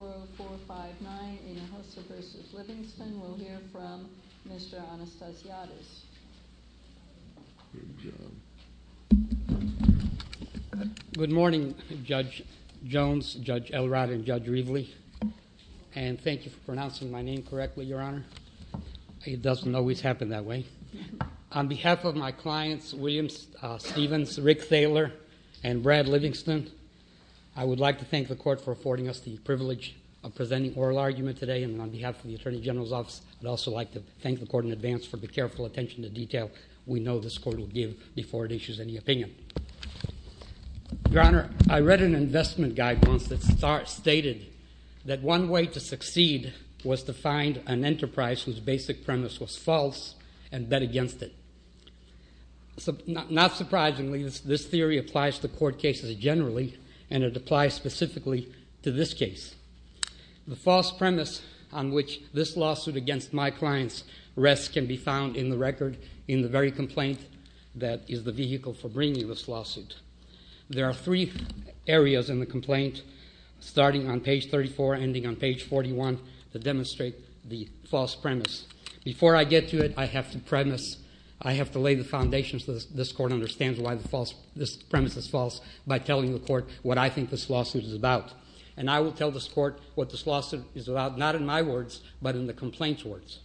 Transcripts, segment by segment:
40459 Hinojosa v. Livingston. We'll hear from Mr. Anastasiadis. Good morning Judge Jones, Judge Elrod, and Judge Rievele. And thank you for pronouncing my name correctly, Your Honor. It doesn't always happen that way. On behalf of my clients, William Stephens, Rick Thaler, and Brad Livingston, I would like to thank the Court for affording us the privilege of presenting oral argument today. And on behalf of the Attorney General's Office, I'd also like to thank the Court in advance for the careful attention to detail we know this Court will give before it issues any opinion. Your Honor, I read an investment guide once that stated that one way to succeed was to find an enterprise whose basic premise was false and bet against it. Not surprisingly, this theory applies to court cases generally, and it applies specifically to this case. The false premise on which this lawsuit against my clients rests can be found in the record in the very complaint that is the vehicle for bringing this lawsuit. There are three areas in the complaint, starting on page 34, ending on page 41, that demonstrate the false premise. Before I get to it, I have to premise. I have to lay the foundation so this Court understands why this premise is false by telling the Court what I think this lawsuit is about. And I will tell this Court what this lawsuit is about, not in my words, but in the complaint's words.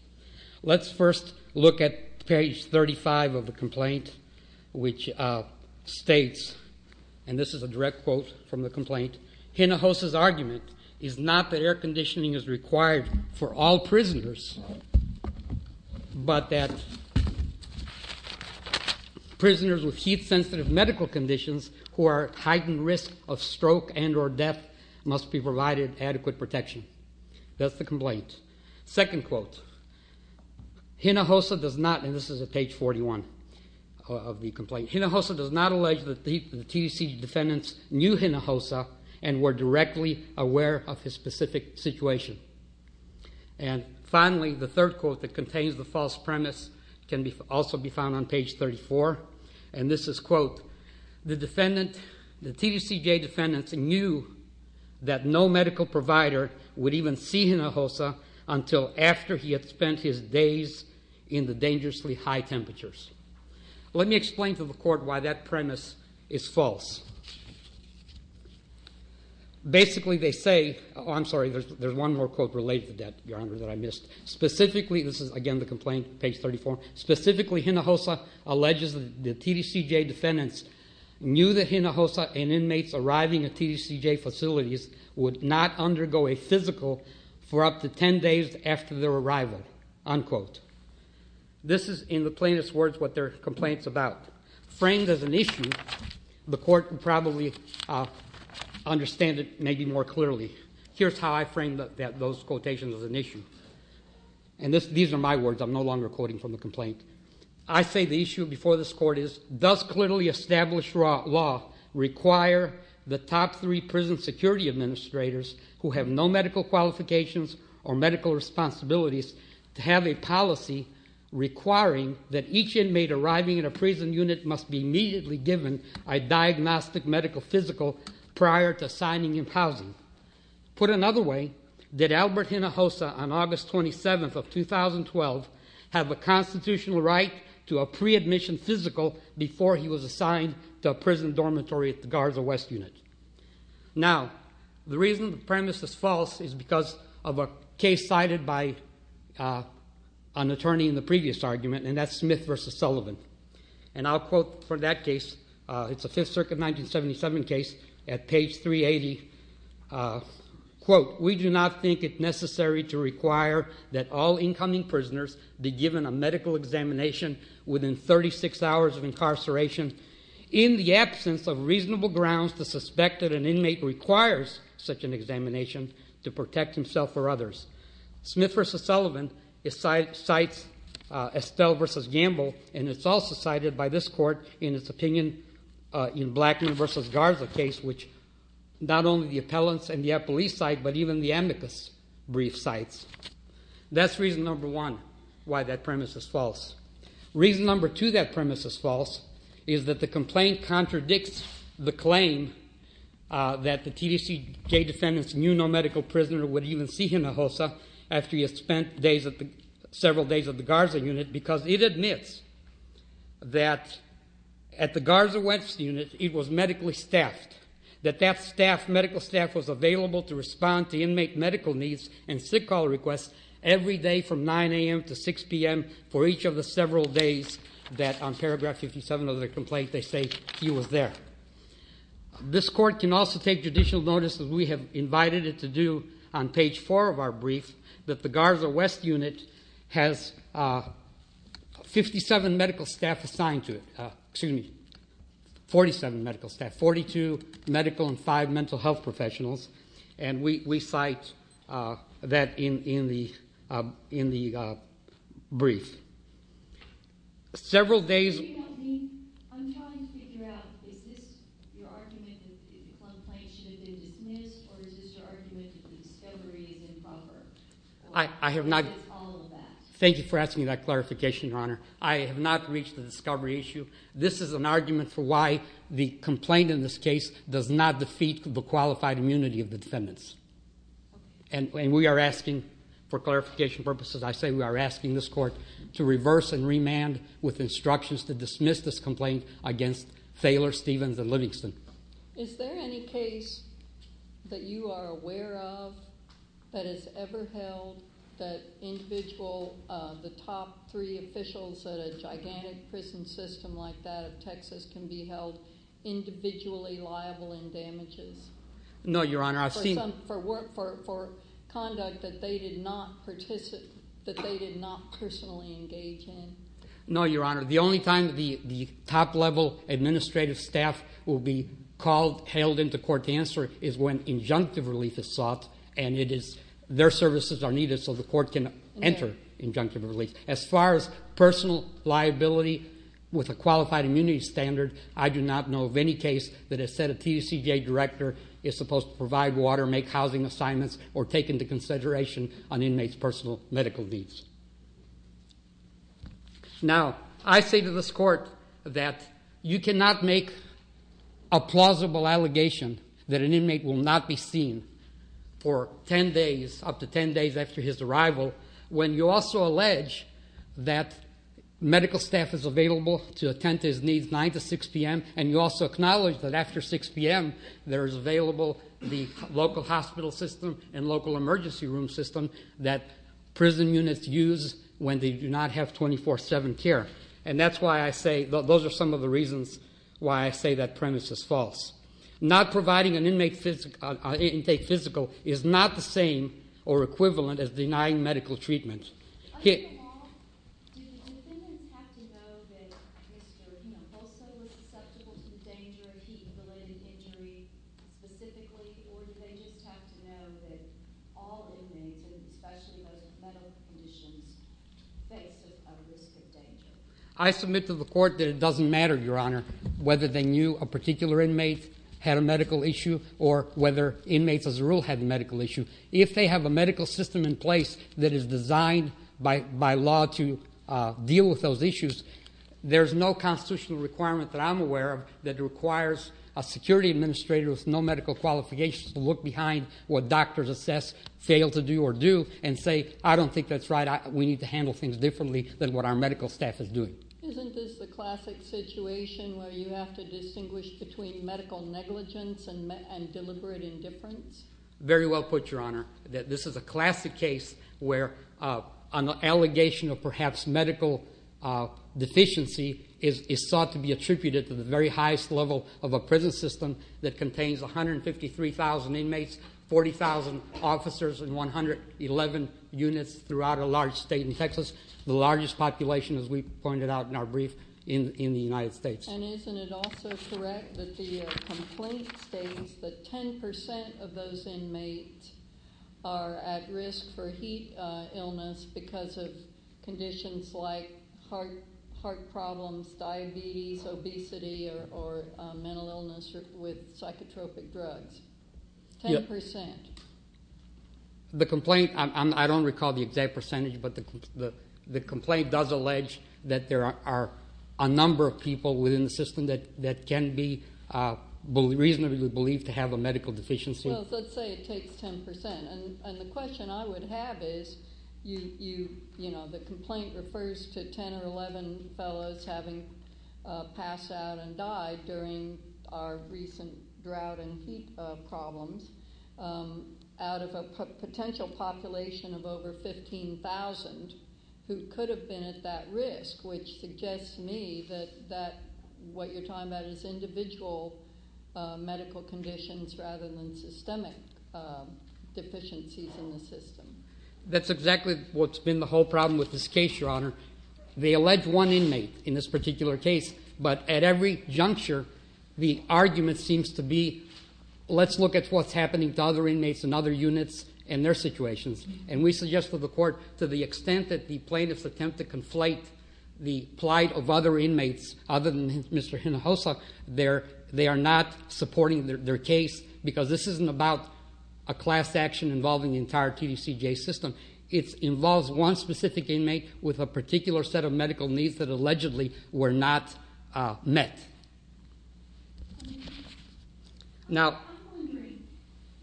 Let's first look at page 35 of the complaint, which states, and this is a direct quote from the complaint, Hinojosa's argument is not that air conditioning is required for all prisoners, but that prisoners with heat-sensitive medical conditions who are at heightened risk of stroke and or death must be provided adequate protection. That's the complaint. Second quote, Hinojosa does not, and this is at page 41 of the complaint, Hinojosa does not allege that the TDCJ defendants knew Hinojosa and were directly aware of his specific situation. And finally, the third quote that contains the false premise can also be found on page 34, and this is, quote, the defendant, the TDCJ defendants knew that no medical provider would even see Hinojosa until after he had spent his days in the dangerously high temperatures. Let me explain to the court why that premise is false. Basically, they say, oh, I'm sorry, there's one more quote related to that, Your Honor, that I missed. Specifically, this is, again, the complaint, page 34. Specifically, Hinojosa alleges that the TDCJ defendants knew that Hinojosa and inmates arriving at TDCJ facilities would not undergo a physical for up to 10 days after their arrival, unquote. This is, in the plainest words, what their complaint's about. Framed as an issue, the court can probably understand it maybe more clearly. Here's how I frame those quotations as an issue, and these are my words. I'm no longer quoting from the complaint. I say the issue before this court is, does clearly established law require the top three prison security administrators who have no medical qualifications or medical responsibilities to have a policy requiring that each inmate arriving in a prison unit must be immediately given a diagnostic medical physical prior to assigning him housing? Put another way, did Albert Hinojosa, on August 27th of 2012, have a constitutional right to a pre-admission physical before he was assigned to a prison dormitory at the Garza West Unit? Now, the reason the premise is false is because of a case cited by an attorney in the previous argument, and that's Smith v. Sullivan. And I'll quote for that case. It's a Fifth Circuit 1977 case at page 380. Quote, we do not think it necessary to require that all incoming prisoners be given a medical examination within 36 hours of incarceration in the absence of reasonable grounds to suspect that an inmate requires such an examination to protect himself or others. Smith v. Sullivan cites Estelle v. Gamble, and it's also cited by this court in its opinion in Blackman v. Garza case, which not only the appellants and the police cite, but even the amicus brief cites. That's reason number one why that premise is false. Reason number two that premise is false is that the complaint contradicts the claim that the TDCJ defendants knew no medical prisoner would even see Hinojosa after he had spent several days at the Garza Unit because it admits that at the Garza West Unit it was medically staffed, that that staff, medical staff, was available to respond to inmate medical needs and sick call requests every day from 9 a.m. to 6 p.m. for each of the several days that on paragraph 57 of the complaint they say he was there. This court can also take judicial notice, as we have invited it to do on page 4 of our brief, that the Garza West Unit has 57 medical staff assigned to it. Excuse me, 47 medical staff, 42 medical and five mental health professionals, and we cite that in the brief. Several days. I'm trying to figure out is this your argument that the complaint should have been dismissed or is this your argument that the discovery is improper? I have not. That's all of that. Thank you for asking that clarification, Your Honor. I have not reached the discovery issue. This is an argument for why the complaint in this case does not defeat the qualified immunity of the defendants. And we are asking for clarification purposes, I say we are asking this court to reverse and remand with instructions to dismiss this complaint against Thaler, Stevens, and Livingston. Is there any case that you are aware of that has ever held that individual, the top three officials at a gigantic prison system like that of Texas can be held individually liable in damages? No, Your Honor. For conduct that they did not personally engage in? No, Your Honor. The only time the top-level administrative staff will be called, hailed into court to answer is when injunctive relief is sought and it is their services are needed so the court can enter injunctive relief. As far as personal liability with a qualified immunity standard, I do not know of any case that has said a TUCDA director is supposed to provide water, make housing assignments, or take into consideration an inmate's personal medical needs. Now, I say to this court that you cannot make a plausible allegation that an inmate will not be seen for 10 days, up to 10 days after his arrival when you also allege that medical staff is available to attend to his needs 9 to 6 p.m. and you also acknowledge that after 6 p.m. there is available the local hospital system and local emergency room system that prison units use when they do not have 24-7 care. And that's why I say, those are some of the reasons why I say that premise is false. Not providing an inmate intake physical is not the same or equivalent as denying medical treatment. I submit to the court that it doesn't matter, Your Honor, whether they knew a particular inmate had a medical issue or whether inmates as a rule had a medical issue. If they have a medical system in place that is designed by law to deal with those issues, there's no constitutional requirement that I'm aware of that requires a security administrator with no medical qualifications to look behind what doctors assess, fail to do or do, and say, I don't think that's right. We need to handle things differently than what our medical staff is doing. Isn't this the classic situation where you have to distinguish between medical negligence and deliberate indifference? Very well put, Your Honor. This is a classic case where an allegation of perhaps medical deficiency is sought to be attributed to the very highest level of a prison system that contains 153,000 inmates, 40,000 officers and 111 units throughout a large state in Texas. The largest population, as we pointed out in our brief, in the United States. And isn't it also correct that the complaint states that 10% of those inmates are at risk for heat illness because of conditions like heart problems, diabetes, obesity or mental illness with psychotropic drugs? 10%? The complaint, I don't recall the exact percentage, but the complaint does allege that there are a number of people within the system that can be reasonably believed to have a medical deficiency. Let's say it takes 10%. The question I would have is, the complaint refers to 10 or 11 fellows having passed out and died during our recent drought and heat problems out of a potential population of over 15,000 who could have been at that risk, which suggests to me that what you're talking about is individual medical conditions rather than systemic deficiencies in the system. That's exactly what's been the whole problem with this case, Your Honor. They allege one inmate in this particular case, but at every juncture, the argument seems to be, let's look at what's happening to other inmates and other units and their situations. And we suggest to the court, to the extent that the plaintiffs attempt to conflate the plight of other inmates, other than Mr. Hinojosa, they are not supporting their case because this isn't about a class action involving the entire TDCJ system. It involves one specific inmate with a particular set of medical needs that allegedly were not met. I'm wondering,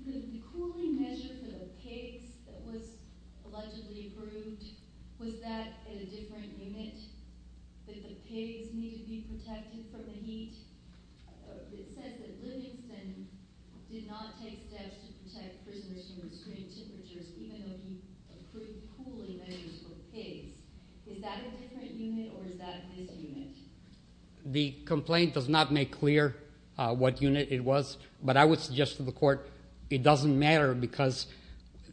the cooling measure for the pigs that was allegedly approved, was that in a different unit? Did the pigs need to be protected from the heat? It says that Livingston did not take steps to protect prisoners from extreme temperatures, even though he approved cooling measures for pigs. Is that a different unit, or is that this unit? The complaint does not make clear what unit it was, but I would suggest to the court it doesn't matter because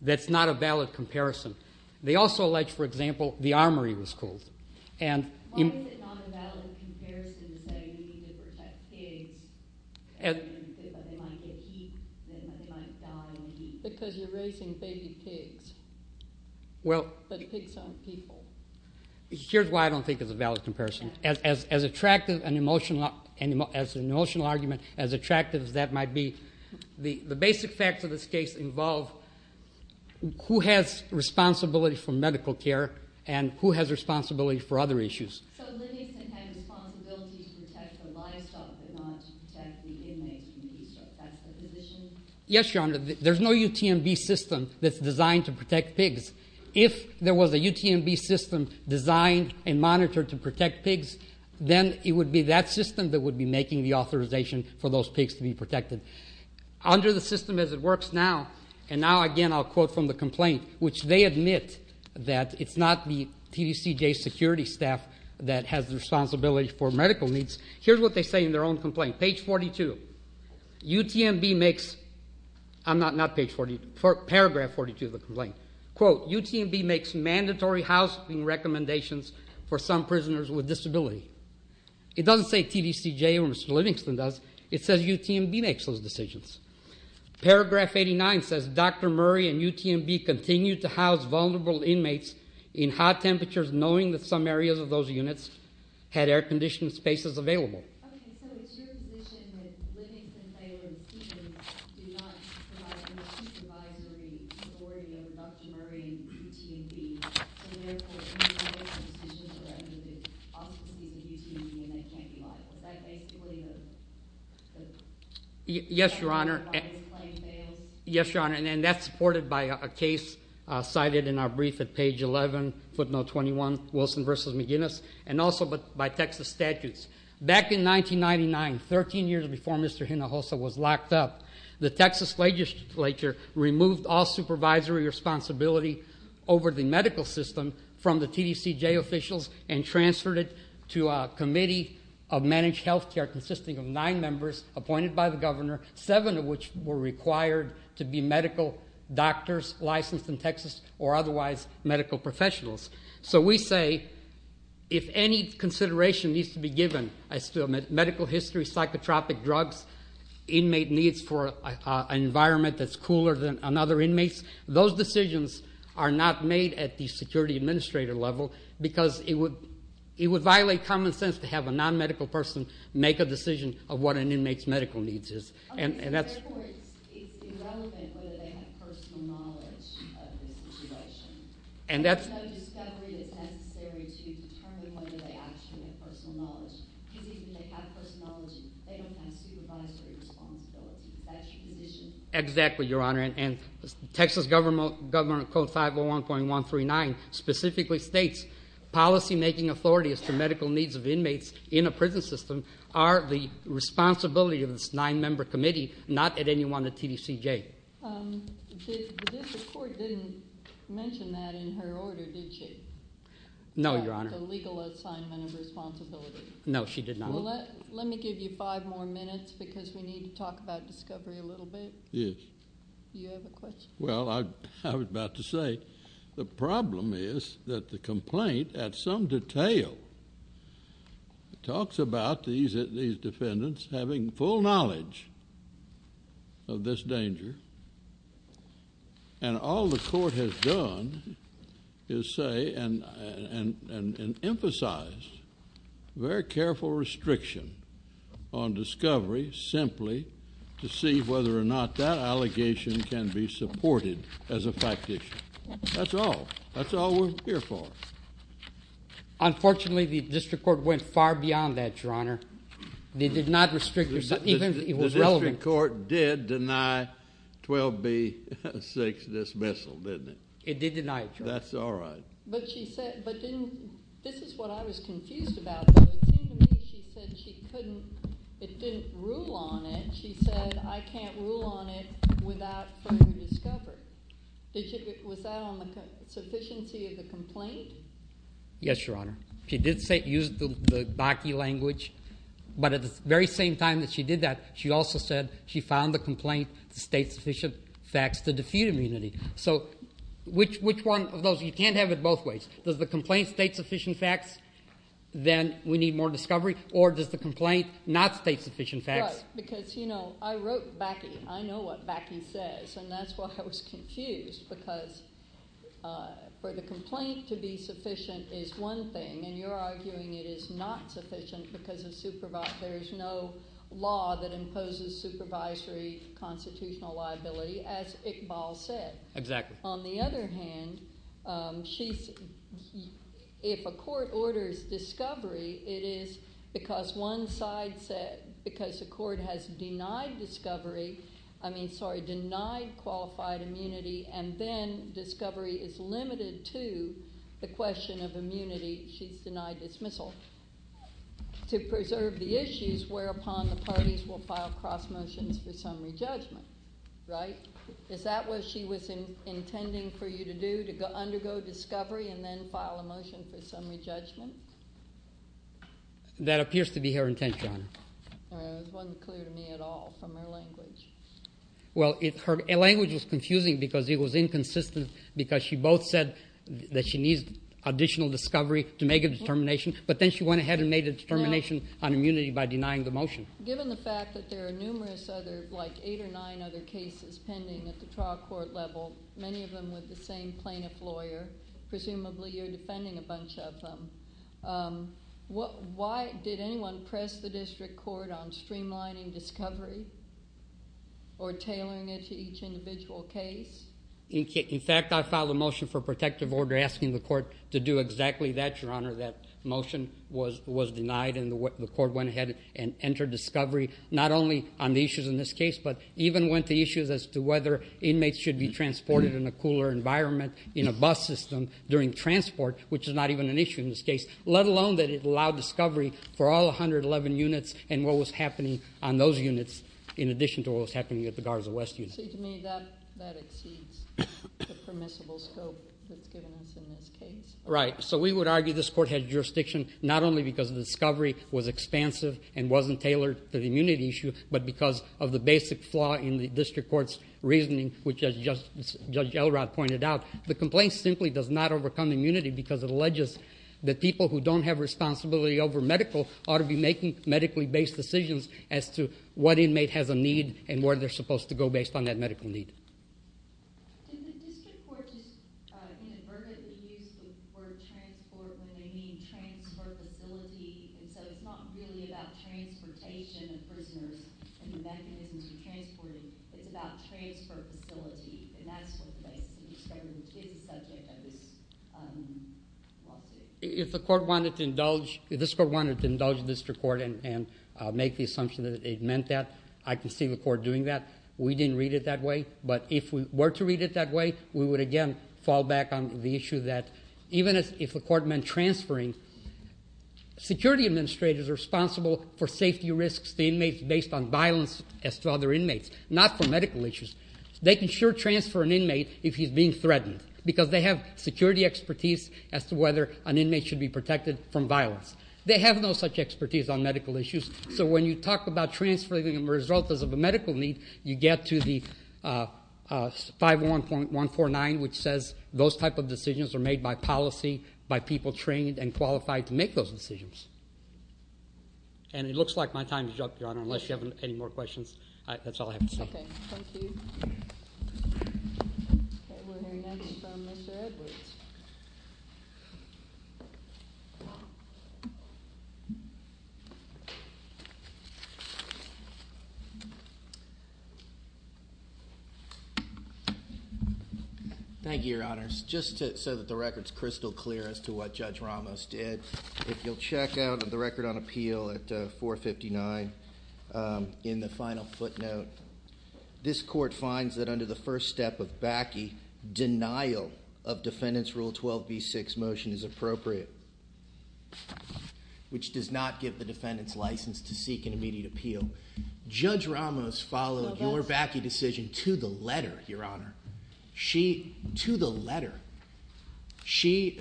that's not a valid comparison. They also allege, for example, the armory was cooled. Why is it not a valid comparison to say you need to protect pigs if they might get heat, if they might die in the heat? Because you're raising baby pigs, but pigs aren't people. Here's why I don't think it's a valid comparison. As attractive an emotional argument as attractive as that might be, the basic facts of this case involve who has responsibility for medical care and who has responsibility for other issues. So Livingston had a responsibility to protect the livestock, but not to protect the inmates from heat stroke. That's the position? Yes, Your Honor. There's no UTMB system that's designed to protect pigs. If there was a UTMB system designed and monitored to protect pigs, then it would be that system that would be making the authorization for those pigs to be protected. Under the system as it works now, and now, again, I'll quote from the complaint, which they admit that it's not the TDCJ security staff that has the responsibility for medical needs. Here's what they say in their own complaint. UTMB makes, I'm not, not page 42, paragraph 42 of the complaint. Quote, UTMB makes mandatory housing recommendations for some prisoners with disability. It doesn't say TDCJ or Mr. Livingston does. It says UTMB makes those decisions. Paragraph 89 says Dr. Murray and UTMB continue to house vulnerable inmates in hot temperatures knowing that some areas of those units had air conditioned spaces available. Okay, so it's your position that Livingston, Thaler, and Keating do not provide any supervisory authority over Dr. Murray and UTMB. So therefore, UTMB makes those decisions for any of the offices of UTMB and they can't be liable. Is that basically the? Yes, Your Honor. That's why this claim fails? Yes, Your Honor, and that's supported by a case cited in our brief at page 11, footnote 21, Wilson versus McGinnis, and also by Texas statutes. Back in 1999, 13 years before Mr. Hinojosa was locked up, the Texas legislature removed all supervisory responsibility over the medical system from the TDCJ officials and transferred it to a committee of managed health care consisting of nine members appointed by the governor, seven of which were required to be medical doctors licensed in Texas or otherwise medical professionals. So we say if any consideration needs to be given as to medical history, psychotropic drugs, inmate needs for an environment that's cooler than other inmates, those decisions are not made at the security administrator level because it would violate common sense to have a non-medical person make a decision of what an inmate's medical needs is. Therefore, it's irrelevant whether they have personal knowledge of the situation. There's no discovery that's necessary to determine whether they actually have personal knowledge. Even if they have personal knowledge, they don't have supervisory responsibility. That's your position? Exactly, Your Honor. And Texas Government Code 501.139 specifically states policymaking authority as to medical needs of inmates in a prison system are the responsibility of this nine-member committee, not at any one of the TDCJ. The court didn't mention that in her order, did she? No, Your Honor. The legal assignment of responsibility. No, she did not. Well, let me give you five more minutes because we need to talk about discovery a little bit. Yes. Do you have a question? Well, I was about to say the problem is that the complaint at some detail talks about these defendants having full knowledge of this danger, and all the court has done is say and emphasize very careful restriction on discovery simply to see whether or not that allegation can be supported as a fact issue. That's all. That's all we're here for. Unfortunately, the district court went far beyond that, Your Honor. They did not restrict yourself, even if it was relevant. The district court did deny 12B-6 dismissal, didn't it? It did deny it, Your Honor. That's all right. This is what I was confused about, though. It seemed to me she said it didn't rule on it. She said, I can't rule on it without further discovery. Was that on the sufficiency of the complaint? Yes, Your Honor. She did use the DACI language, but at the very same time that she did that, she also said she found the complaint to state sufficient facts to defuse immunity. So which one of those? You can't have it both ways. Does the complaint state sufficient facts, then we need more discovery, or does the complaint not state sufficient facts? Right, because I wrote BACI. I know what BACI says, and that's why I was confused because for the complaint to be sufficient is one thing, and you're arguing it is not sufficient because there is no law that imposes supervisory constitutional liability, as Iqbal said. Exactly. On the other hand, if a court orders discovery, it is because one side said because the court has denied discovery, I mean, sorry, denied qualified immunity, and then discovery is limited to the question of immunity, she's denied dismissal to preserve the issues whereupon the parties will file cross motions for summary judgment. Right? Is that what she was intending for you to do, to undergo discovery and then file a motion for summary judgment? That appears to be her intent, Your Honor. It wasn't clear to me at all from her language. Well, her language was confusing because it was inconsistent because she both said that she needs additional discovery to make a determination, but then she went ahead and made a determination on immunity by denying the motion. Given the fact that there are numerous other, like eight or nine other cases pending at the trial court level, many of them with the same plaintiff lawyer, presumably you're defending a bunch of them, why did anyone press the district court on streamlining discovery or tailoring it to each individual case? In fact, I filed a motion for protective order asking the court to do exactly that, Your Honor. That motion was denied and the court went ahead and entered discovery not only on the issues in this case, but even went to issues as to whether inmates should be transported in a cooler environment in a bus system during transport, which is not even an issue in this case, let alone that it allowed discovery for all 111 units and what was happening on those units in addition to what was happening at the Garza West unit. To me, that exceeds the permissible scope that's given us in this case. Right. So we would argue this court has jurisdiction not only because the discovery was expansive and wasn't tailored to the immunity issue, but because of the basic flaw in the district court's reasoning, which as Judge Elrod pointed out, the complaint simply does not overcome immunity because it alleges that people who don't have responsibility over medical ought to be making medically based decisions as to what inmate has a need and where they're supposed to go based on that medical need. Did the district court just inadvertently use the word transport when they mean transfer facility? And so it's not really about transportation of prisoners and the mechanisms you transported. It's about transfer facility, and that's what the discovery is a subject of this lawsuit. If the court wanted to indulge, if this court wanted to indulge the district court and make the assumption that it meant that, I can see the court doing that. We didn't read it that way. But if we were to read it that way, we would again fall back on the issue that even if the court meant transferring, security administrators are responsible for safety risks to inmates based on violence as to other inmates, not for medical issues. They can sure transfer an inmate if he's being threatened because they have security expertise as to whether an inmate should be protected from violence. They have no such expertise on medical issues. So when you talk about transferring a result as of a medical need, you get to the 511.149, which says those type of decisions are made by policy, by people trained and qualified to make those decisions. And it looks like my time is up, Your Honor, unless you have any more questions. That's all I have to say. Okay, thank you. Okay, we're hearing next from Mr. Edwards. Thank you, Your Honors. Just so that the record is crystal clear as to what Judge Ramos did, if you'll check out the record on appeal at 459 in the final footnote, this court finds that under the first step of BACI, denial of defendant's Rule 12b6 motion is appropriate, which does not give the defendant's license to seek an immediate appeal. Judge Ramos followed your BACI decision to the letter, Your Honor. To the letter, she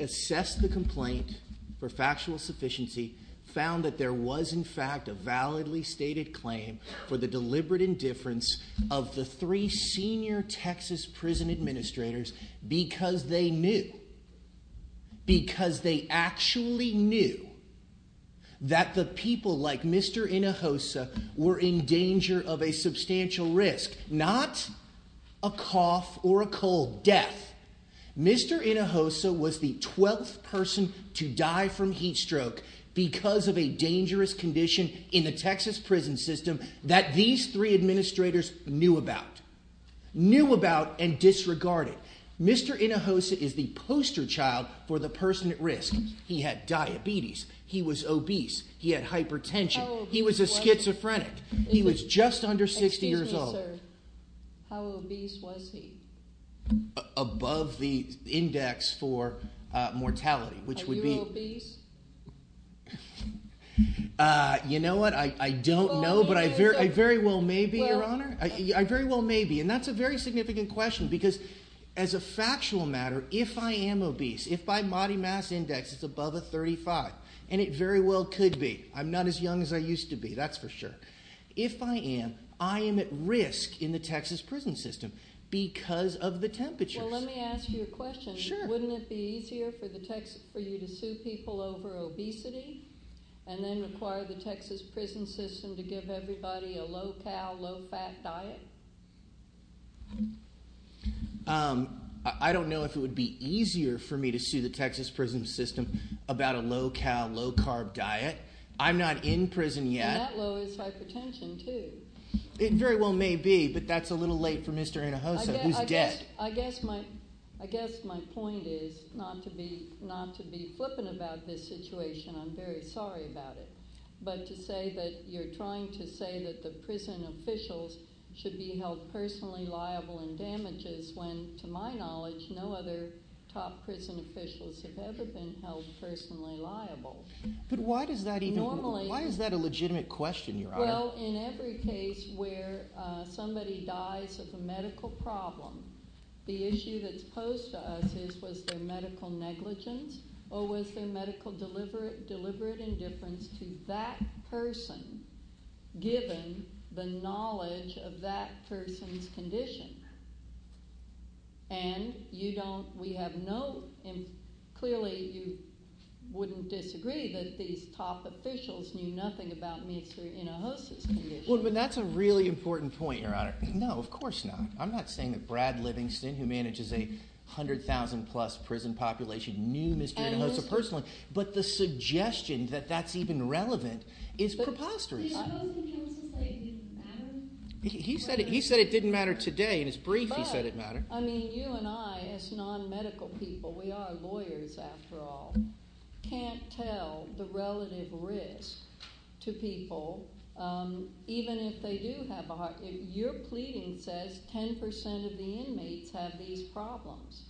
assessed the complaint for factual sufficiency, found that there was in fact a validly stated claim for the deliberate indifference of the three senior Texas prison administrators because they knew, because they actually knew that the people like Mr. Hinojosa were in danger of a substantial risk, not a cough or a cold death. Mr. Hinojosa was the 12th person to die from heat stroke because of a dangerous condition in the Texas prison system that these three administrators knew about, knew about and disregarded. Mr. Hinojosa is the poster child for the person at risk. He had diabetes. He was obese. He had hypertension. He was a schizophrenic. He was just under 60 years old. Excuse me, sir. How obese was he? Above the index for mortality, which would be... Are you obese? You know what? I don't know, but I very well may be, Your Honor. I very well may be, and that's a very significant question because as a factual matter, if I am obese, if my body mass index is above a 35, and it very well could be. I'm not as young as I used to be. That's for sure. If I am, I am at risk in the Texas prison system because of the temperatures. Well, let me ask you a question. Sure. Wouldn't it be easier for you to sue people over obesity and then require the Texas prison system to give everybody a low-cal, low-fat diet? I don't know if it would be easier for me to sue the Texas prison system about a low-cal, low-carb diet. I'm not in prison yet. And that lowers hypertension, too. It very well may be, but that's a little late for Mr. Anahosa, who's dead. I guess my point is not to be flippant about this situation. I'm very sorry about it. But to say that you're trying to say that the prison officials should be held personally liable in damages when, to my knowledge, no other top prison officials have ever been held personally liable. But why does that even—why is that a legitimate question, Your Honor? Well, in every case where somebody dies of a medical problem, the issue that's posed to us is was there medical negligence or was there medical deliberate indifference to that person given the knowledge of that person's condition? And you don't—we have no—clearly you wouldn't disagree that these top officials knew nothing about Mr. Anahosa's condition. Well, but that's a really important point, Your Honor. No, of course not. I'm not saying that Brad Livingston, who manages a 100,000-plus prison population, knew Mr. Anahosa personally. But the suggestion that that's even relevant is preposterous. He said it didn't matter today. In his brief, he said it mattered. But, I mean, you and I, as non-medical people—we are lawyers after all— can't tell the relative risk to people even if they do have a heart— your pleading says 10 percent of the inmates have these problems.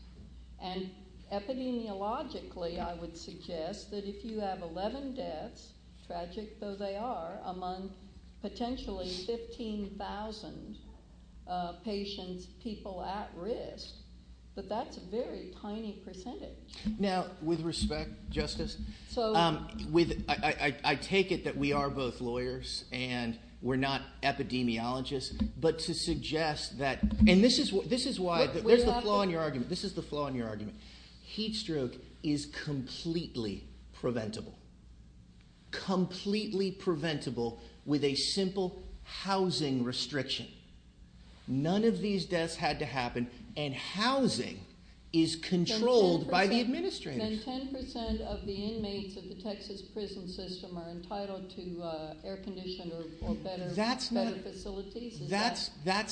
And epidemiologically, I would suggest that if you have 11 deaths, tragic though they are, among potentially 15,000 patients, people at risk, that that's a very tiny percentage. Now, with respect, Justice, I take it that we are both lawyers and we're not epidemiologists, but to suggest that—and this is why— There's the flaw in your argument. This is the flaw in your argument. Heat stroke is completely preventable. Completely preventable with a simple housing restriction. None of these deaths had to happen, and housing is controlled by the administrators. Then 10 percent of the inmates of the Texas prison system are entitled to air conditioning or better facilities. That's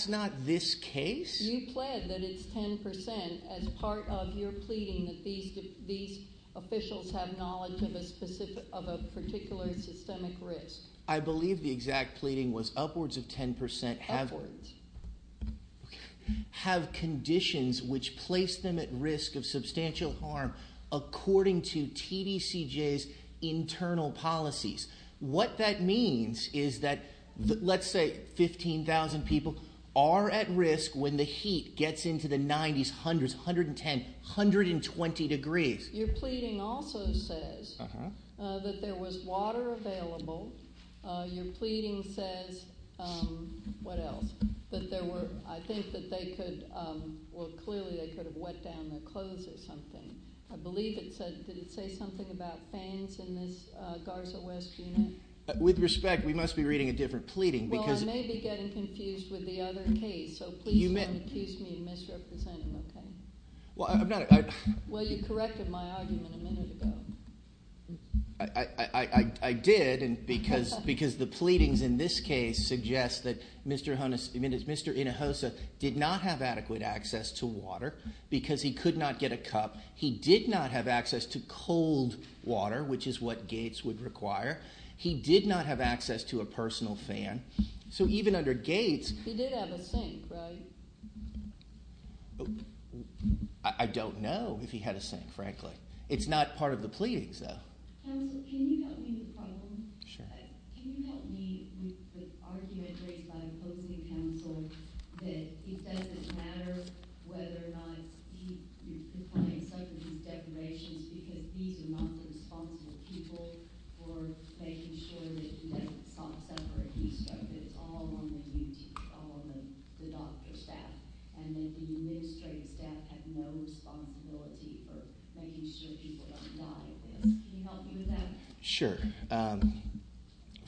not this case. You pled that it's 10 percent as part of your pleading that these officials have knowledge of a particular systemic risk. I believe the exact pleading was upwards of 10 percent have— Upwards. Have conditions which place them at risk of substantial harm according to TDCJ's internal policies. What that means is that, let's say, 15,000 people are at risk when the heat gets into the 90s, 100s, 110, 120 degrees. Your pleading also says that there was water available. Your pleading says—what else? That there were—I think that they could— Well, clearly they could have wet down their clothes or something. I believe it said—did it say something about fans in this Garza West unit? With respect, we must be reading a different pleading because— You're going to accuse me of misrepresenting, okay? Well, I'm not— Well, you corrected my argument a minute ago. I did because the pleadings in this case suggest that Mr. Inajosa did not have adequate access to water because he could not get a cup. He did not have access to cold water, which is what gates would require. He did not have access to a personal fan. So even under gates— He did have a sink, right? I don't know if he had a sink, frankly. It's not part of the pleadings, though. Counsel, can you help me with a problem? Sure. Can you help me with the argument raised by opposing counsel that it doesn't matter whether or not he— because these are not the responsible people for making sure that it's not separate. It's all on the doctor staff, and that the administrative staff have no responsibility for making sure people don't die in this. Can you help me with that? Sure.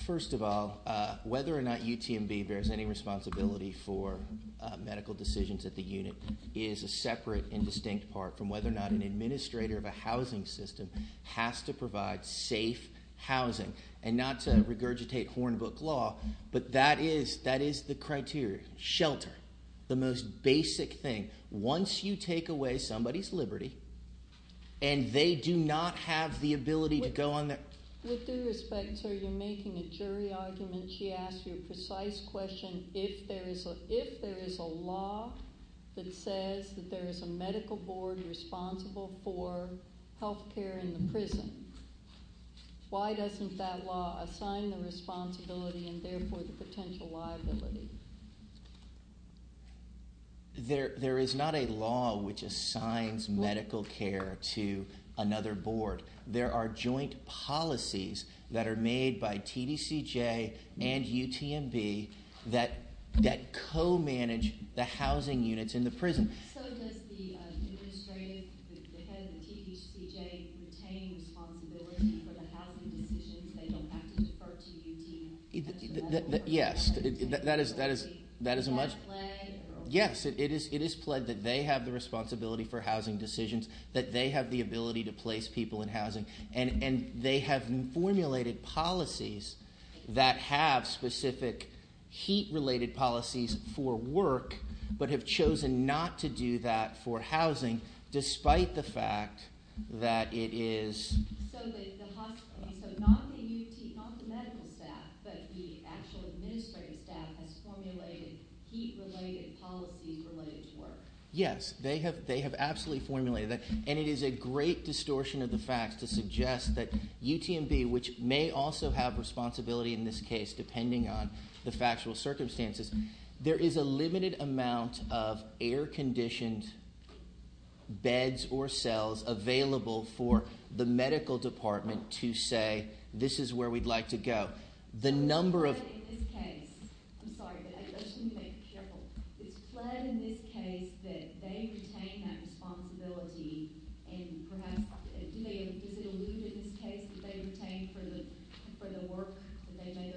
First of all, whether or not UTMB bears any responsibility for medical decisions at the unit is a separate and distinct part from whether or not an administrator of a housing system has to provide safe housing. And not to regurgitate Hornbook law, but that is the criteria. Shelter, the most basic thing. Once you take away somebody's liberty and they do not have the ability to go on their— With due respect, sir, you're making a jury argument. She asked you a precise question. If there is a law that says that there is a medical board responsible for health care in the prison, why doesn't that law assign the responsibility and therefore the potential liability? There is not a law which assigns medical care to another board. There are joint policies that are made by TDCJ and UTMB that co-manage the housing units in the prison. So does the administrative, the head of the TDCJ, retain responsibility for the housing decisions? They don't have to defer to UT. Yes. Is that a play? Yes. It is played that they have the responsibility for housing decisions, that they have the ability to place people in housing, and they have formulated policies that have specific heat-related policies for work but have chosen not to do that for housing, despite the fact that it is— So not the medical staff, but the actual administrative staff has formulated heat-related policies related to work. Yes, they have absolutely formulated that, and it is a great distortion of the facts to suggest that UTMB, which may also have responsibility in this case, depending on the factual circumstances, there is a limited amount of air-conditioned beds or cells available for the medical department to say, this is where we'd like to go. It's pled in this case—I'm sorry, I just need to be careful. It's pled in this case that they retain that responsibility, and perhaps—is it alluded in this case that they retain for the work?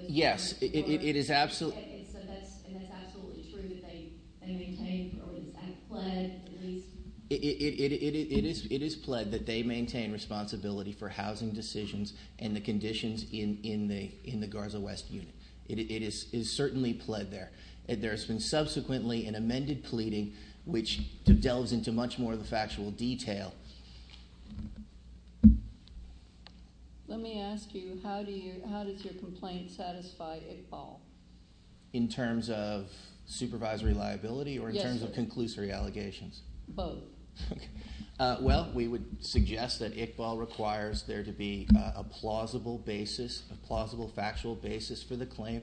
Yes, it is absolutely— And that's absolutely true that they maintain, or is that pled? It is pled that they maintain responsibility for housing decisions and the conditions in the Garza West unit. It is certainly pled there. There has been subsequently an amended pleading, which delves into much more of the factual detail. Let me ask you, how does your complaint satisfy Iqbal? In terms of supervisory liability or in terms of conclusory allegations? Both. Well, we would suggest that Iqbal requires there to be a plausible basis, a plausible factual basis for the claim.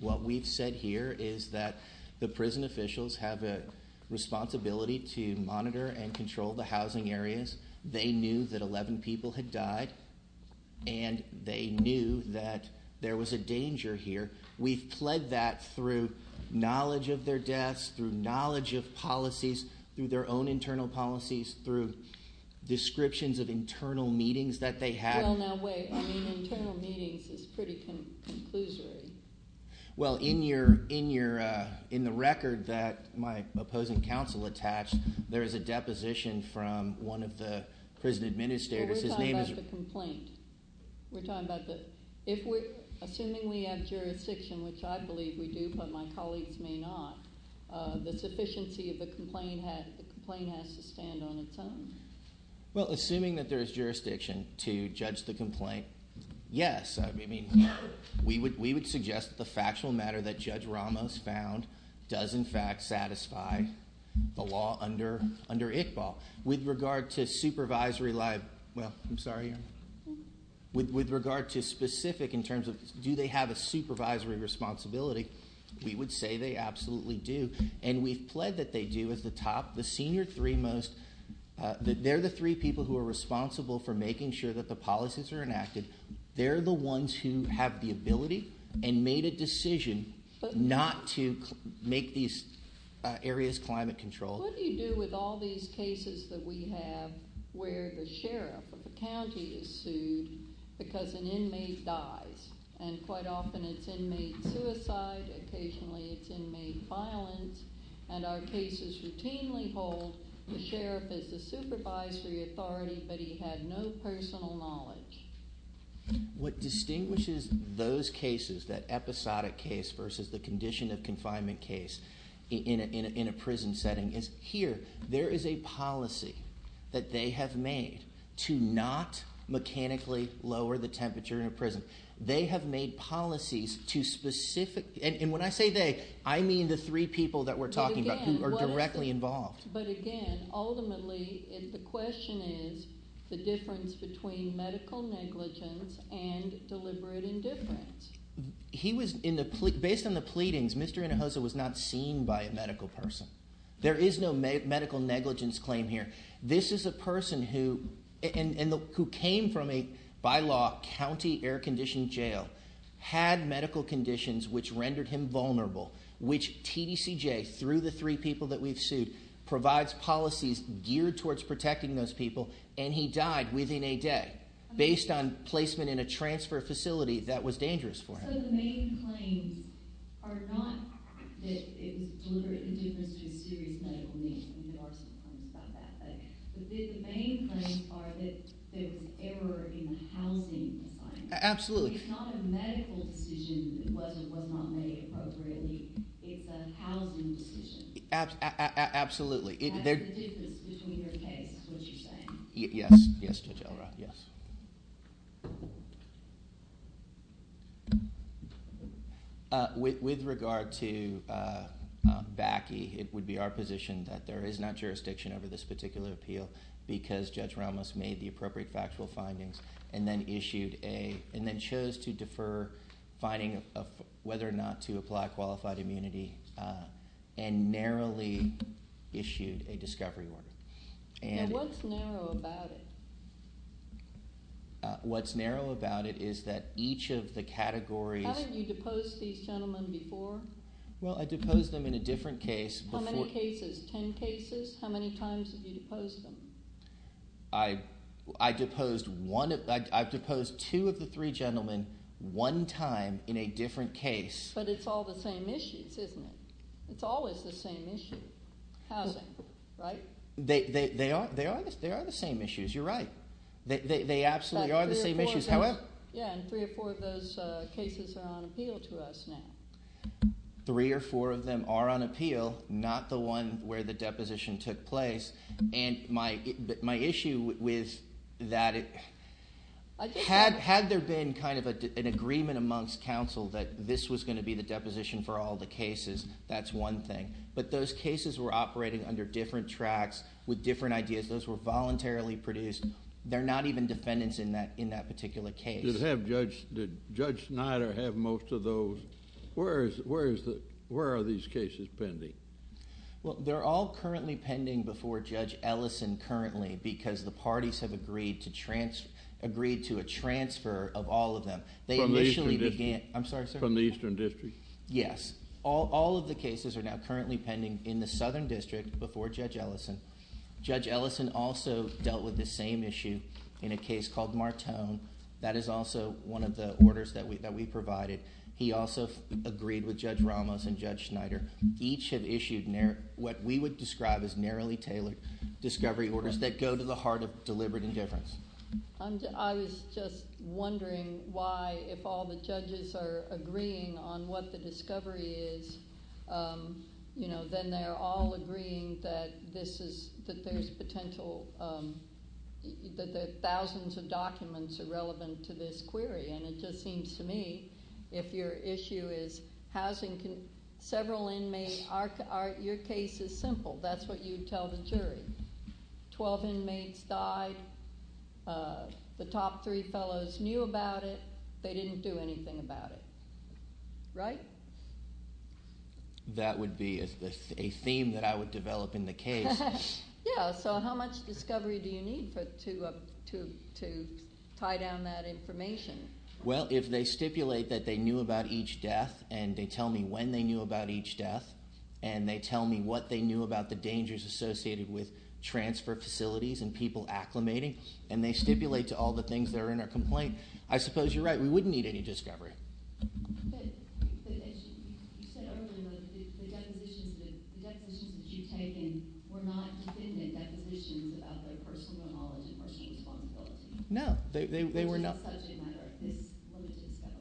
What we've said here is that the prison officials have a responsibility to monitor and control the housing areas. They knew that 11 people had died, and they knew that there was a danger here. We've pled that through knowledge of their deaths, through knowledge of policies, through their own internal policies, through descriptions of internal meetings that they had. Well, now wait. I mean internal meetings is pretty conclusory. Well, in the record that my opposing counsel attached, there is a deposition from one of the prison administrators. We're talking about the complaint. We're talking about the—assuming we have jurisdiction, which I believe we do, but my colleagues may not, the sufficiency of the complaint has to stand on its own. Well, assuming that there is jurisdiction to judge the complaint, yes. I mean, we would suggest that the factual matter that Judge Ramos found does, in fact, satisfy the law under Iqbal. With regard to supervisory liability—well, I'm sorry. With regard to specific in terms of do they have a supervisory responsibility, we would say they absolutely do, and we've pled that they do as the top—the senior three most. They're the three people who are responsible for making sure that the policies are enacted. They're the ones who have the ability and made a decision not to make these areas climate controlled. What do you do with all these cases that we have where the sheriff of the county is sued because an inmate dies, and quite often it's inmate suicide, occasionally it's inmate violence, and our cases routinely hold the sheriff as the supervisory authority, but he had no personal knowledge? What distinguishes those cases, that episodic case versus the condition of confinement case in a prison setting, is here there is a policy that they have made to not mechanically lower the temperature in a prison. They have made policies to specific—and when I say they, I mean the three people that we're talking about who are directly involved. But again, ultimately the question is the difference between medical negligence and deliberate indifference. Based on the pleadings, Mr. Hinojosa was not seen by a medical person. There is no medical negligence claim here. This is a person who came from a, by law, county air-conditioned jail, had medical conditions which rendered him vulnerable, which TDCJ, through the three people that we've sued, provides policies geared towards protecting those people, and he died within a day based on placement in a transfer facility that was dangerous for him. So the main claims are not that it was deliberate indifference to a serious medical need, and there are some claims about that, but the main claims are that there was error in the housing assignment. Absolutely. It's not a medical decision that was or was not made appropriately. It's a housing decision. Absolutely. That's the difference between your case, is what you're saying. Yes, Judge Elroth, yes. With regard to BACI, it would be our position that there is not jurisdiction over this particular appeal because Judge Ramos made the appropriate factual findings and then issued a, and then chose to defer finding of whether or not to apply qualified immunity and narrowly issued a discovery order. What's narrow about it? What's narrow about it is that each of the categories. How have you deposed these gentlemen before? Well, I deposed them in a different case. How many cases? Ten cases? How many times have you deposed them? I've deposed two of the three gentlemen one time in a different case. But it's all the same issues, isn't it? It's always the same issue, housing, right? They are the same issues. You're right. They absolutely are the same issues. Yeah, and three or four of those cases are on appeal to us now. Three or four of them are on appeal, not the one where the deposition took place. And my issue with that, had there been kind of an agreement amongst counsel that this was going to be the deposition for all the cases, that's one thing. But those cases were operating under different tracks, with different ideas. Those were voluntarily produced. They're not even defendants in that particular case. Did Judge Snyder have most of those? Where are these cases pending? Well, they're all currently pending before Judge Ellison currently because the parties have agreed to a transfer of all of them. From the Eastern District? Yes. All of the cases are now currently pending in the Southern District before Judge Ellison. Judge Ellison also dealt with this same issue in a case called Martone. That is also one of the orders that we provided. He also agreed with Judge Ramos and Judge Snyder. Each have issued what we would describe as narrowly tailored discovery orders that go to the heart of deliberate indifference. I was just wondering why, if all the judges are agreeing on what the discovery is, then they're all agreeing that there's potential, that thousands of documents are relevant to this query. It just seems to me if your issue is housing several inmates, your case is simple. That's what you'd tell the jury. Twelve inmates died. The top three fellows knew about it. They didn't do anything about it. Right? That would be a theme that I would develop in the case. Yeah, so how much discovery do you need to tie down that information? Well, if they stipulate that they knew about each death and they tell me when they knew about each death and they tell me what they knew about the dangers associated with transfer facilities and people acclimating, and they stipulate to all the things that are in our complaint, I suppose you're right. We wouldn't need any discovery. But as you said earlier, the depositions that you've taken were not defendant depositions of their personal knowledge of our case vulnerability. No, they were not. It's just such a matter of this little discovery,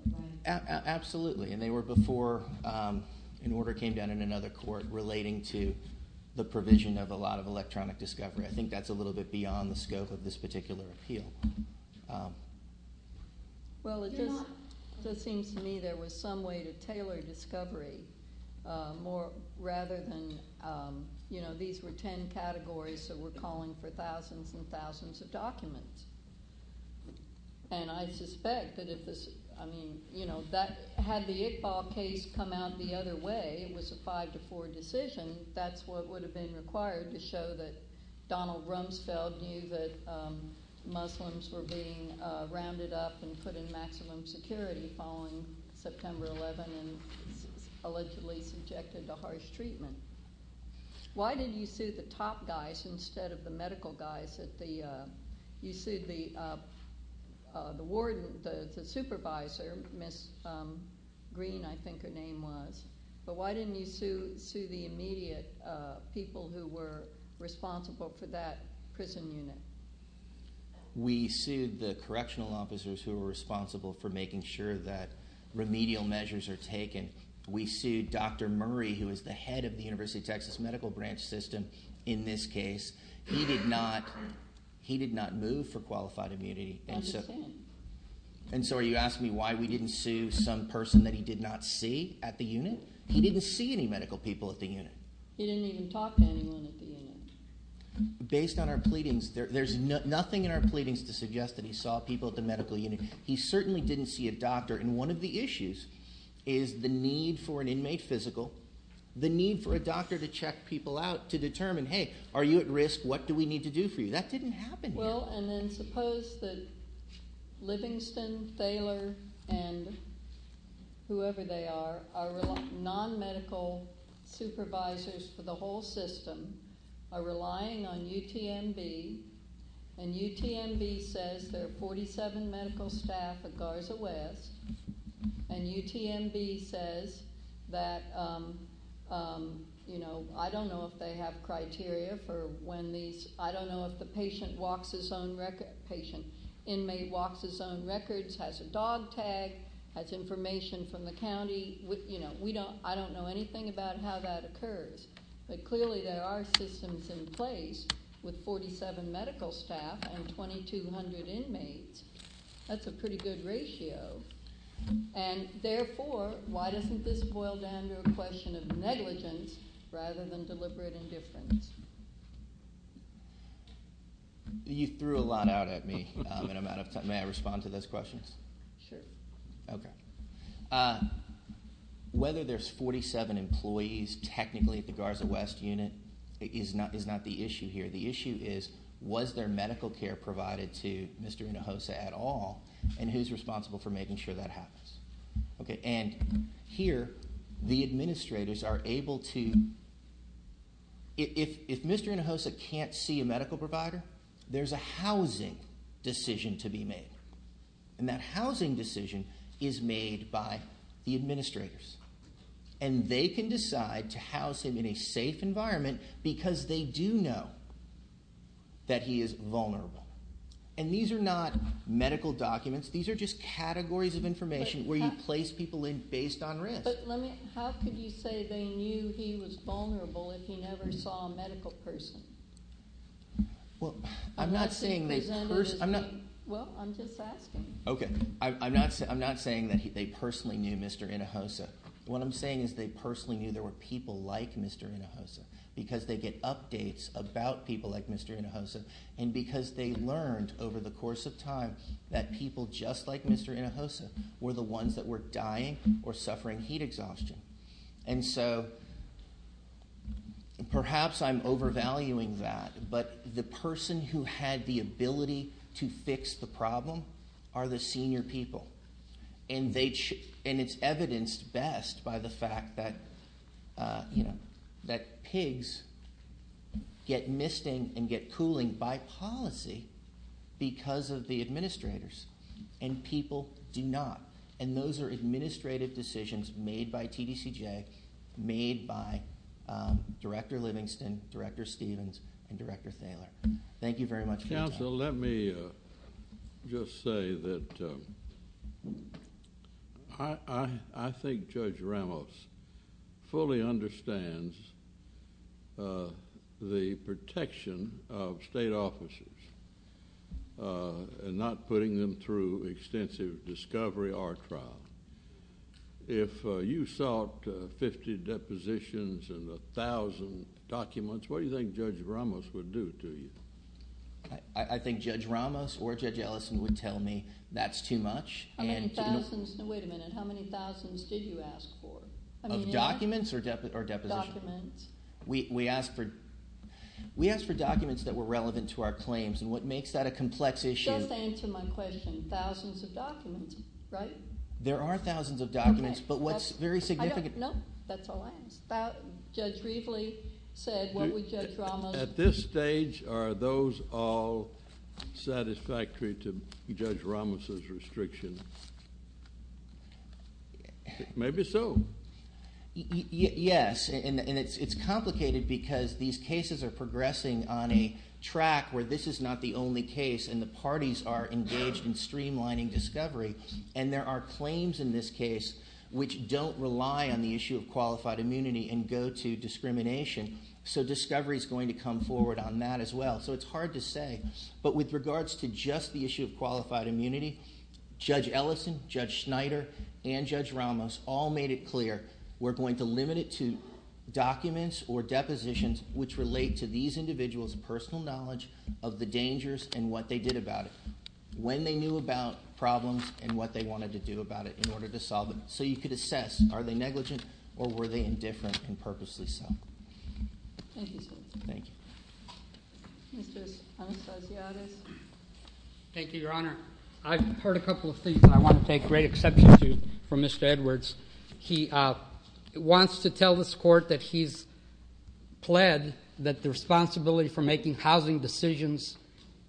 right? Absolutely, and they were before an order came down in another court relating to the provision of a lot of electronic discovery. I think that's a little bit beyond the scope of this particular appeal. Well, it just seems to me there was some way to tailor discovery rather than, you know, these were ten categories so we're calling for thousands and thousands of documents. And I suspect that if this, I mean, you know, had the Iqbal case come out the other way, it was a 5-4 decision, and that's what would have been required to show that Donald Rumsfeld knew that Muslims were being rounded up and put in maximum security following September 11 and allegedly subjected to harsh treatment. Why didn't you sue the top guys instead of the medical guys? You sued the warden, the supervisor, Ms. Green, I think her name was. But why didn't you sue the immediate people who were responsible for that prison unit? We sued the correctional officers who were responsible for making sure that remedial measures are taken. We sued Dr. Murray, who is the head of the University of Texas Medical Branch System, in this case. He did not move for qualified immunity. I understand. And so are you asking me why we didn't sue some person that he did not see at the unit? He didn't see any medical people at the unit. He didn't even talk to anyone at the unit. Based on our pleadings, there's nothing in our pleadings to suggest that he saw people at the medical unit. He certainly didn't see a doctor, and one of the issues is the need for an inmate physical, the need for a doctor to check people out to determine, hey, are you at risk? What do we need to do for you? That didn't happen yet. Well, and then suppose that Livingston, Thaler, and whoever they are, are non-medical supervisors for the whole system, are relying on UTMB, and UTMB says there are 47 medical staff at Garza West, and UTMB says that, you know, I don't know if they have criteria for when these I don't know if the patient walks his own record. Inmate walks his own records, has a dog tag, has information from the county. You know, I don't know anything about how that occurs, but clearly there are systems in place with 47 medical staff and 2,200 inmates. That's a pretty good ratio, and therefore why doesn't this boil down to a question of negligence rather than deliberate indifference? You threw a lot out at me, and I'm out of time. May I respond to those questions? Sure. Okay. Whether there's 47 employees technically at the Garza West unit is not the issue here. The issue is was there medical care provided to Mr. Hinojosa at all, and who's responsible for making sure that happens? And here the administrators are able to if Mr. Hinojosa can't see a medical provider, there's a housing decision to be made, and that housing decision is made by the administrators, and they can decide to house him in a safe environment because they do know that he is vulnerable. And these are not medical documents. These are just categories of information where you place people in based on risk. But how could you say they knew he was vulnerable if he never saw a medical person? Well, I'm not saying they personally knew. Well, I'm just asking. Okay. I'm not saying that they personally knew Mr. Hinojosa. What I'm saying is they personally knew there were people like Mr. Hinojosa because they get updates about people like Mr. Hinojosa and because they learned over the course of time that people just like Mr. Hinojosa were the ones that were dying or suffering heat exhaustion. And so perhaps I'm overvaluing that, but the person who had the ability to fix the problem are the senior people, and it's evidenced best by the fact that pigs get misting and get cooling by policy because of the administrators, and people do not. And those are administrative decisions made by TDCJ, made by Director Livingston, Director Stevens, and Director Thaler. Thank you very much for your time. So let me just say that I think Judge Ramos fully understands the protection of state officers and not putting them through extensive discovery or trial. If you sought 50 depositions and 1,000 documents, what do you think Judge Ramos would do to you? I think Judge Ramos or Judge Ellison would tell me that's too much. How many thousands? Wait a minute. How many thousands did you ask for? Of documents or depositions? Documents. We asked for documents that were relevant to our claims, and what makes that a complex issue? Just answer my question. Thousands of documents, right? There are thousands of documents, but what's very significant... No, that's all I asked. Judge Reveley said, what would Judge Ramos... At this stage, are those all satisfactory to Judge Ramos' restriction? Maybe so. Yes, and it's complicated because these cases are progressing on a track where this is not the only case, and the parties are engaged in streamlining discovery, and there are claims in this case which don't rely on the issue of qualified immunity and go to discrimination. So discovery is going to come forward on that as well, so it's hard to say. But with regards to just the issue of qualified immunity, Judge Ellison, Judge Schneider, and Judge Ramos all made it clear we're going to limit it to documents or depositions which relate to these individuals' personal knowledge of the dangers and what they did about it, when they knew about problems, and what they wanted to do about it in order to solve them. So you could assess, are they negligent or were they indifferent and purposely so? Thank you, sir. Thank you. Mr. Anastasiades. Thank you, Your Honor. I've heard a couple of things that I want to take great exception to from Mr. Edwards. He wants to tell this Court that he's pled that the responsibility for making housing decisions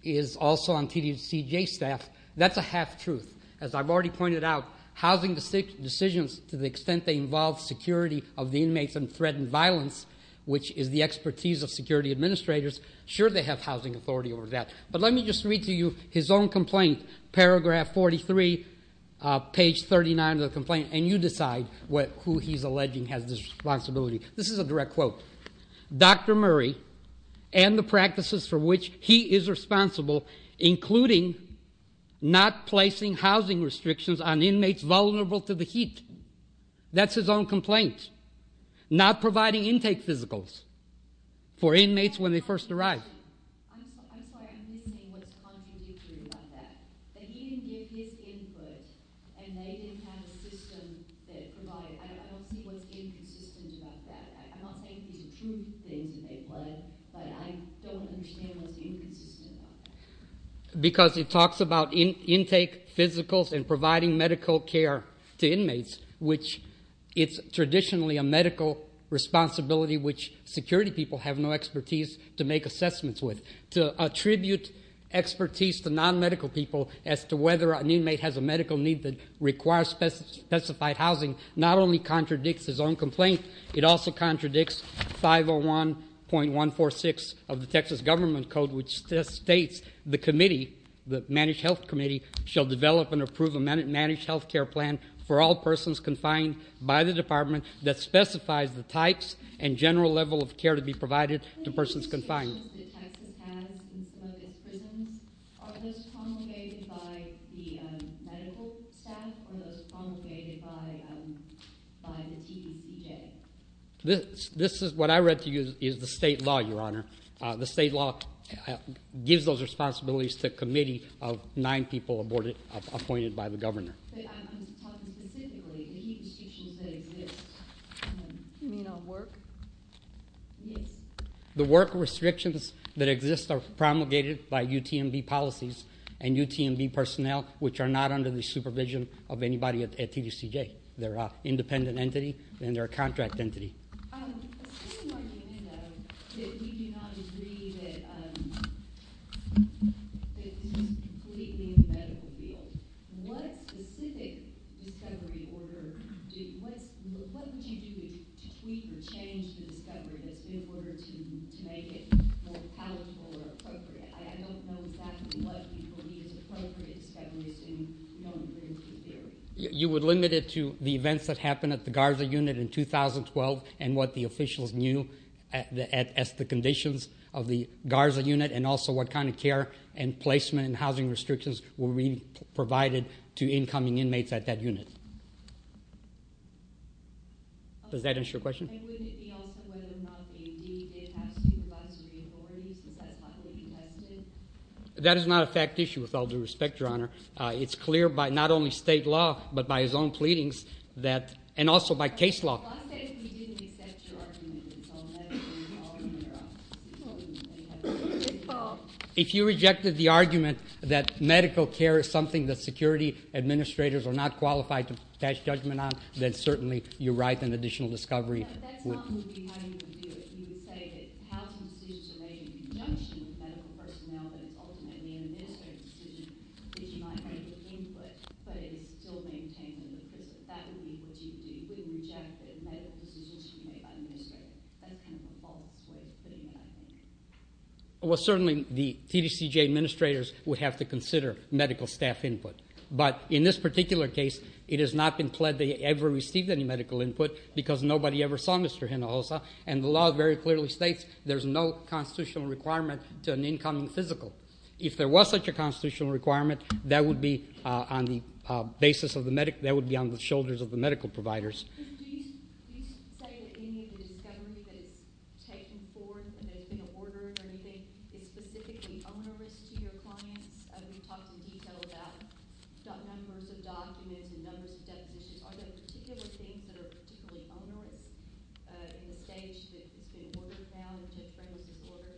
is also on TDCJ staff. That's a half-truth. As I've already pointed out, housing decisions, to the extent they involve security of the inmates and threatened violence, which is the expertise of security administrators, sure they have housing authority over that. But let me just read to you his own complaint, paragraph 43, page 39 of the complaint, and you decide who he's alleging has this responsibility. This is a direct quote. Dr. Murray and the practices for which he is responsible, including not placing housing restrictions on inmates vulnerable to the heat. That's his own complaint. Not providing intake physicals for inmates when they first arrive. I'm sorry, I'm listening. What's contradictory about that? That he didn't give his input and they didn't have a system that provided. I don't see what's inconsistent about that. I'm not saying these are true things that they've pled, but I don't understand what's inconsistent about that. Because it talks about intake physicals and providing medical care to inmates, which it's traditionally a medical responsibility which security people have no expertise to make assessments with. To attribute expertise to non-medical people as to whether an inmate has a medical need that requires specified housing not only contradicts his own complaint, it also contradicts 501.146 of the Texas government code, which states the committee, the managed health committee, shall develop and approve a managed health care plan for all persons confined by the department that specifies the types and general level of care to be provided to persons confined. The prisons that Texas has in some of its prisons, are those promulgated by the medical staff or are those promulgated by the TTCJ? What I read to you is the state law, Your Honor. The state law gives those responsibilities to a committee of nine people appointed by the governor. I'm just talking specifically, the heat restrictions that exist. You mean on work? Yes. The work restrictions that exist are promulgated by UTMB policies and UTMB personnel, which are not under the supervision of anybody at TTCJ. They're an independent entity and they're a contract entity. Assuming our unit, though, that we do not agree that this is completely in the medical field, what specific discovery order, what would you do to tweak or change the discovery that's been ordered to make it more palatable or appropriate? I don't know exactly what people need as appropriate discoveries in the theory. You would limit it to the events that happened at the Garza unit in 2012 and what the officials knew as to the conditions of the Garza unit and also what kind of care and placement and housing restrictions were provided to incoming inmates at that unit. Does that answer your question? And would it be also whether or not they did have supervisory authority since that's not what you tested? That is not a fact issue, with all due respect, Your Honor. It's clear by not only state law but by his own pleadings and also by case law. Well, I'll say that we didn't accept your argument. If you rejected the argument that medical care is something that security administrators are not qualified to attach judgment on, then certainly you're right in the additional discovery. No, that's not how you would do it. You would say that housing decisions are made in conjunction with medical personnel and it's ultimately an administrative decision that you might have input but it is still maintained in the prison. That would be what you would do. You wouldn't reject that medical decisions should be made by administrators. That's kind of a false way of putting it, I think. Well, certainly the TTCJ administrators would have to consider medical staff input. But in this particular case, it has not been pled that they ever received any medical input because nobody ever saw Mr. Hinojosa. And the law very clearly states there's no constitutional requirement to an incoming physical. If there was such a constitutional requirement, that would be on the basis of the medical, that would be on the shoulders of the medical providers. Do you say that any of the discovery that is taken forth and that has been ordered or anything is specifically onerous to your clients? You talked in detail about numbers of documents and numbers of depositions. Are there particular things that are particularly onerous in the stage that it's been ordered now, and Judge Brangham's order?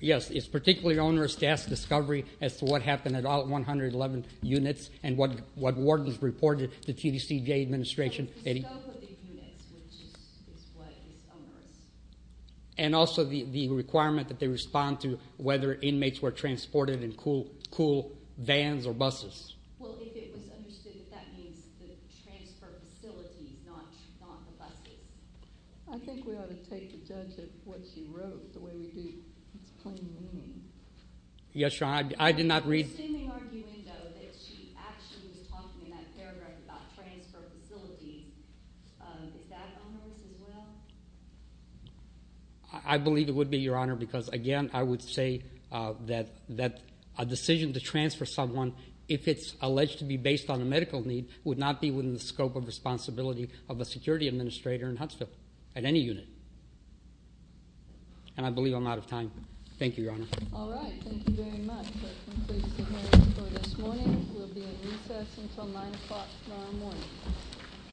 Yes. It's particularly onerous to ask discovery as to what happened at all 111 units and what was reported to TTCJ administration. The scope of the units, which is what is onerous. And also the requirement that they respond to whether inmates were transported in cool vans or buses. Well, if it was understood that that means the transfer of facilities, not the buses. I think we ought to take a judge of what she wrote, the way we do. It's plain wrong. Yes, Your Honor. I did not read. You seem to be arguing, though, that she actually was talking in that paragraph about transfer of facilities. Is that onerous as well? I believe it would be, Your Honor, because, again, I would say that a decision to transfer someone, if it's alleged to be based on a medical need, would not be within the scope of responsibility of a security administrator in Huntsville at any unit. And I believe I'm out of time. Thank you, Your Honor. All right. Thank you very much. That concludes the hearing for this morning. We'll be at recess until 9 o'clock tomorrow morning.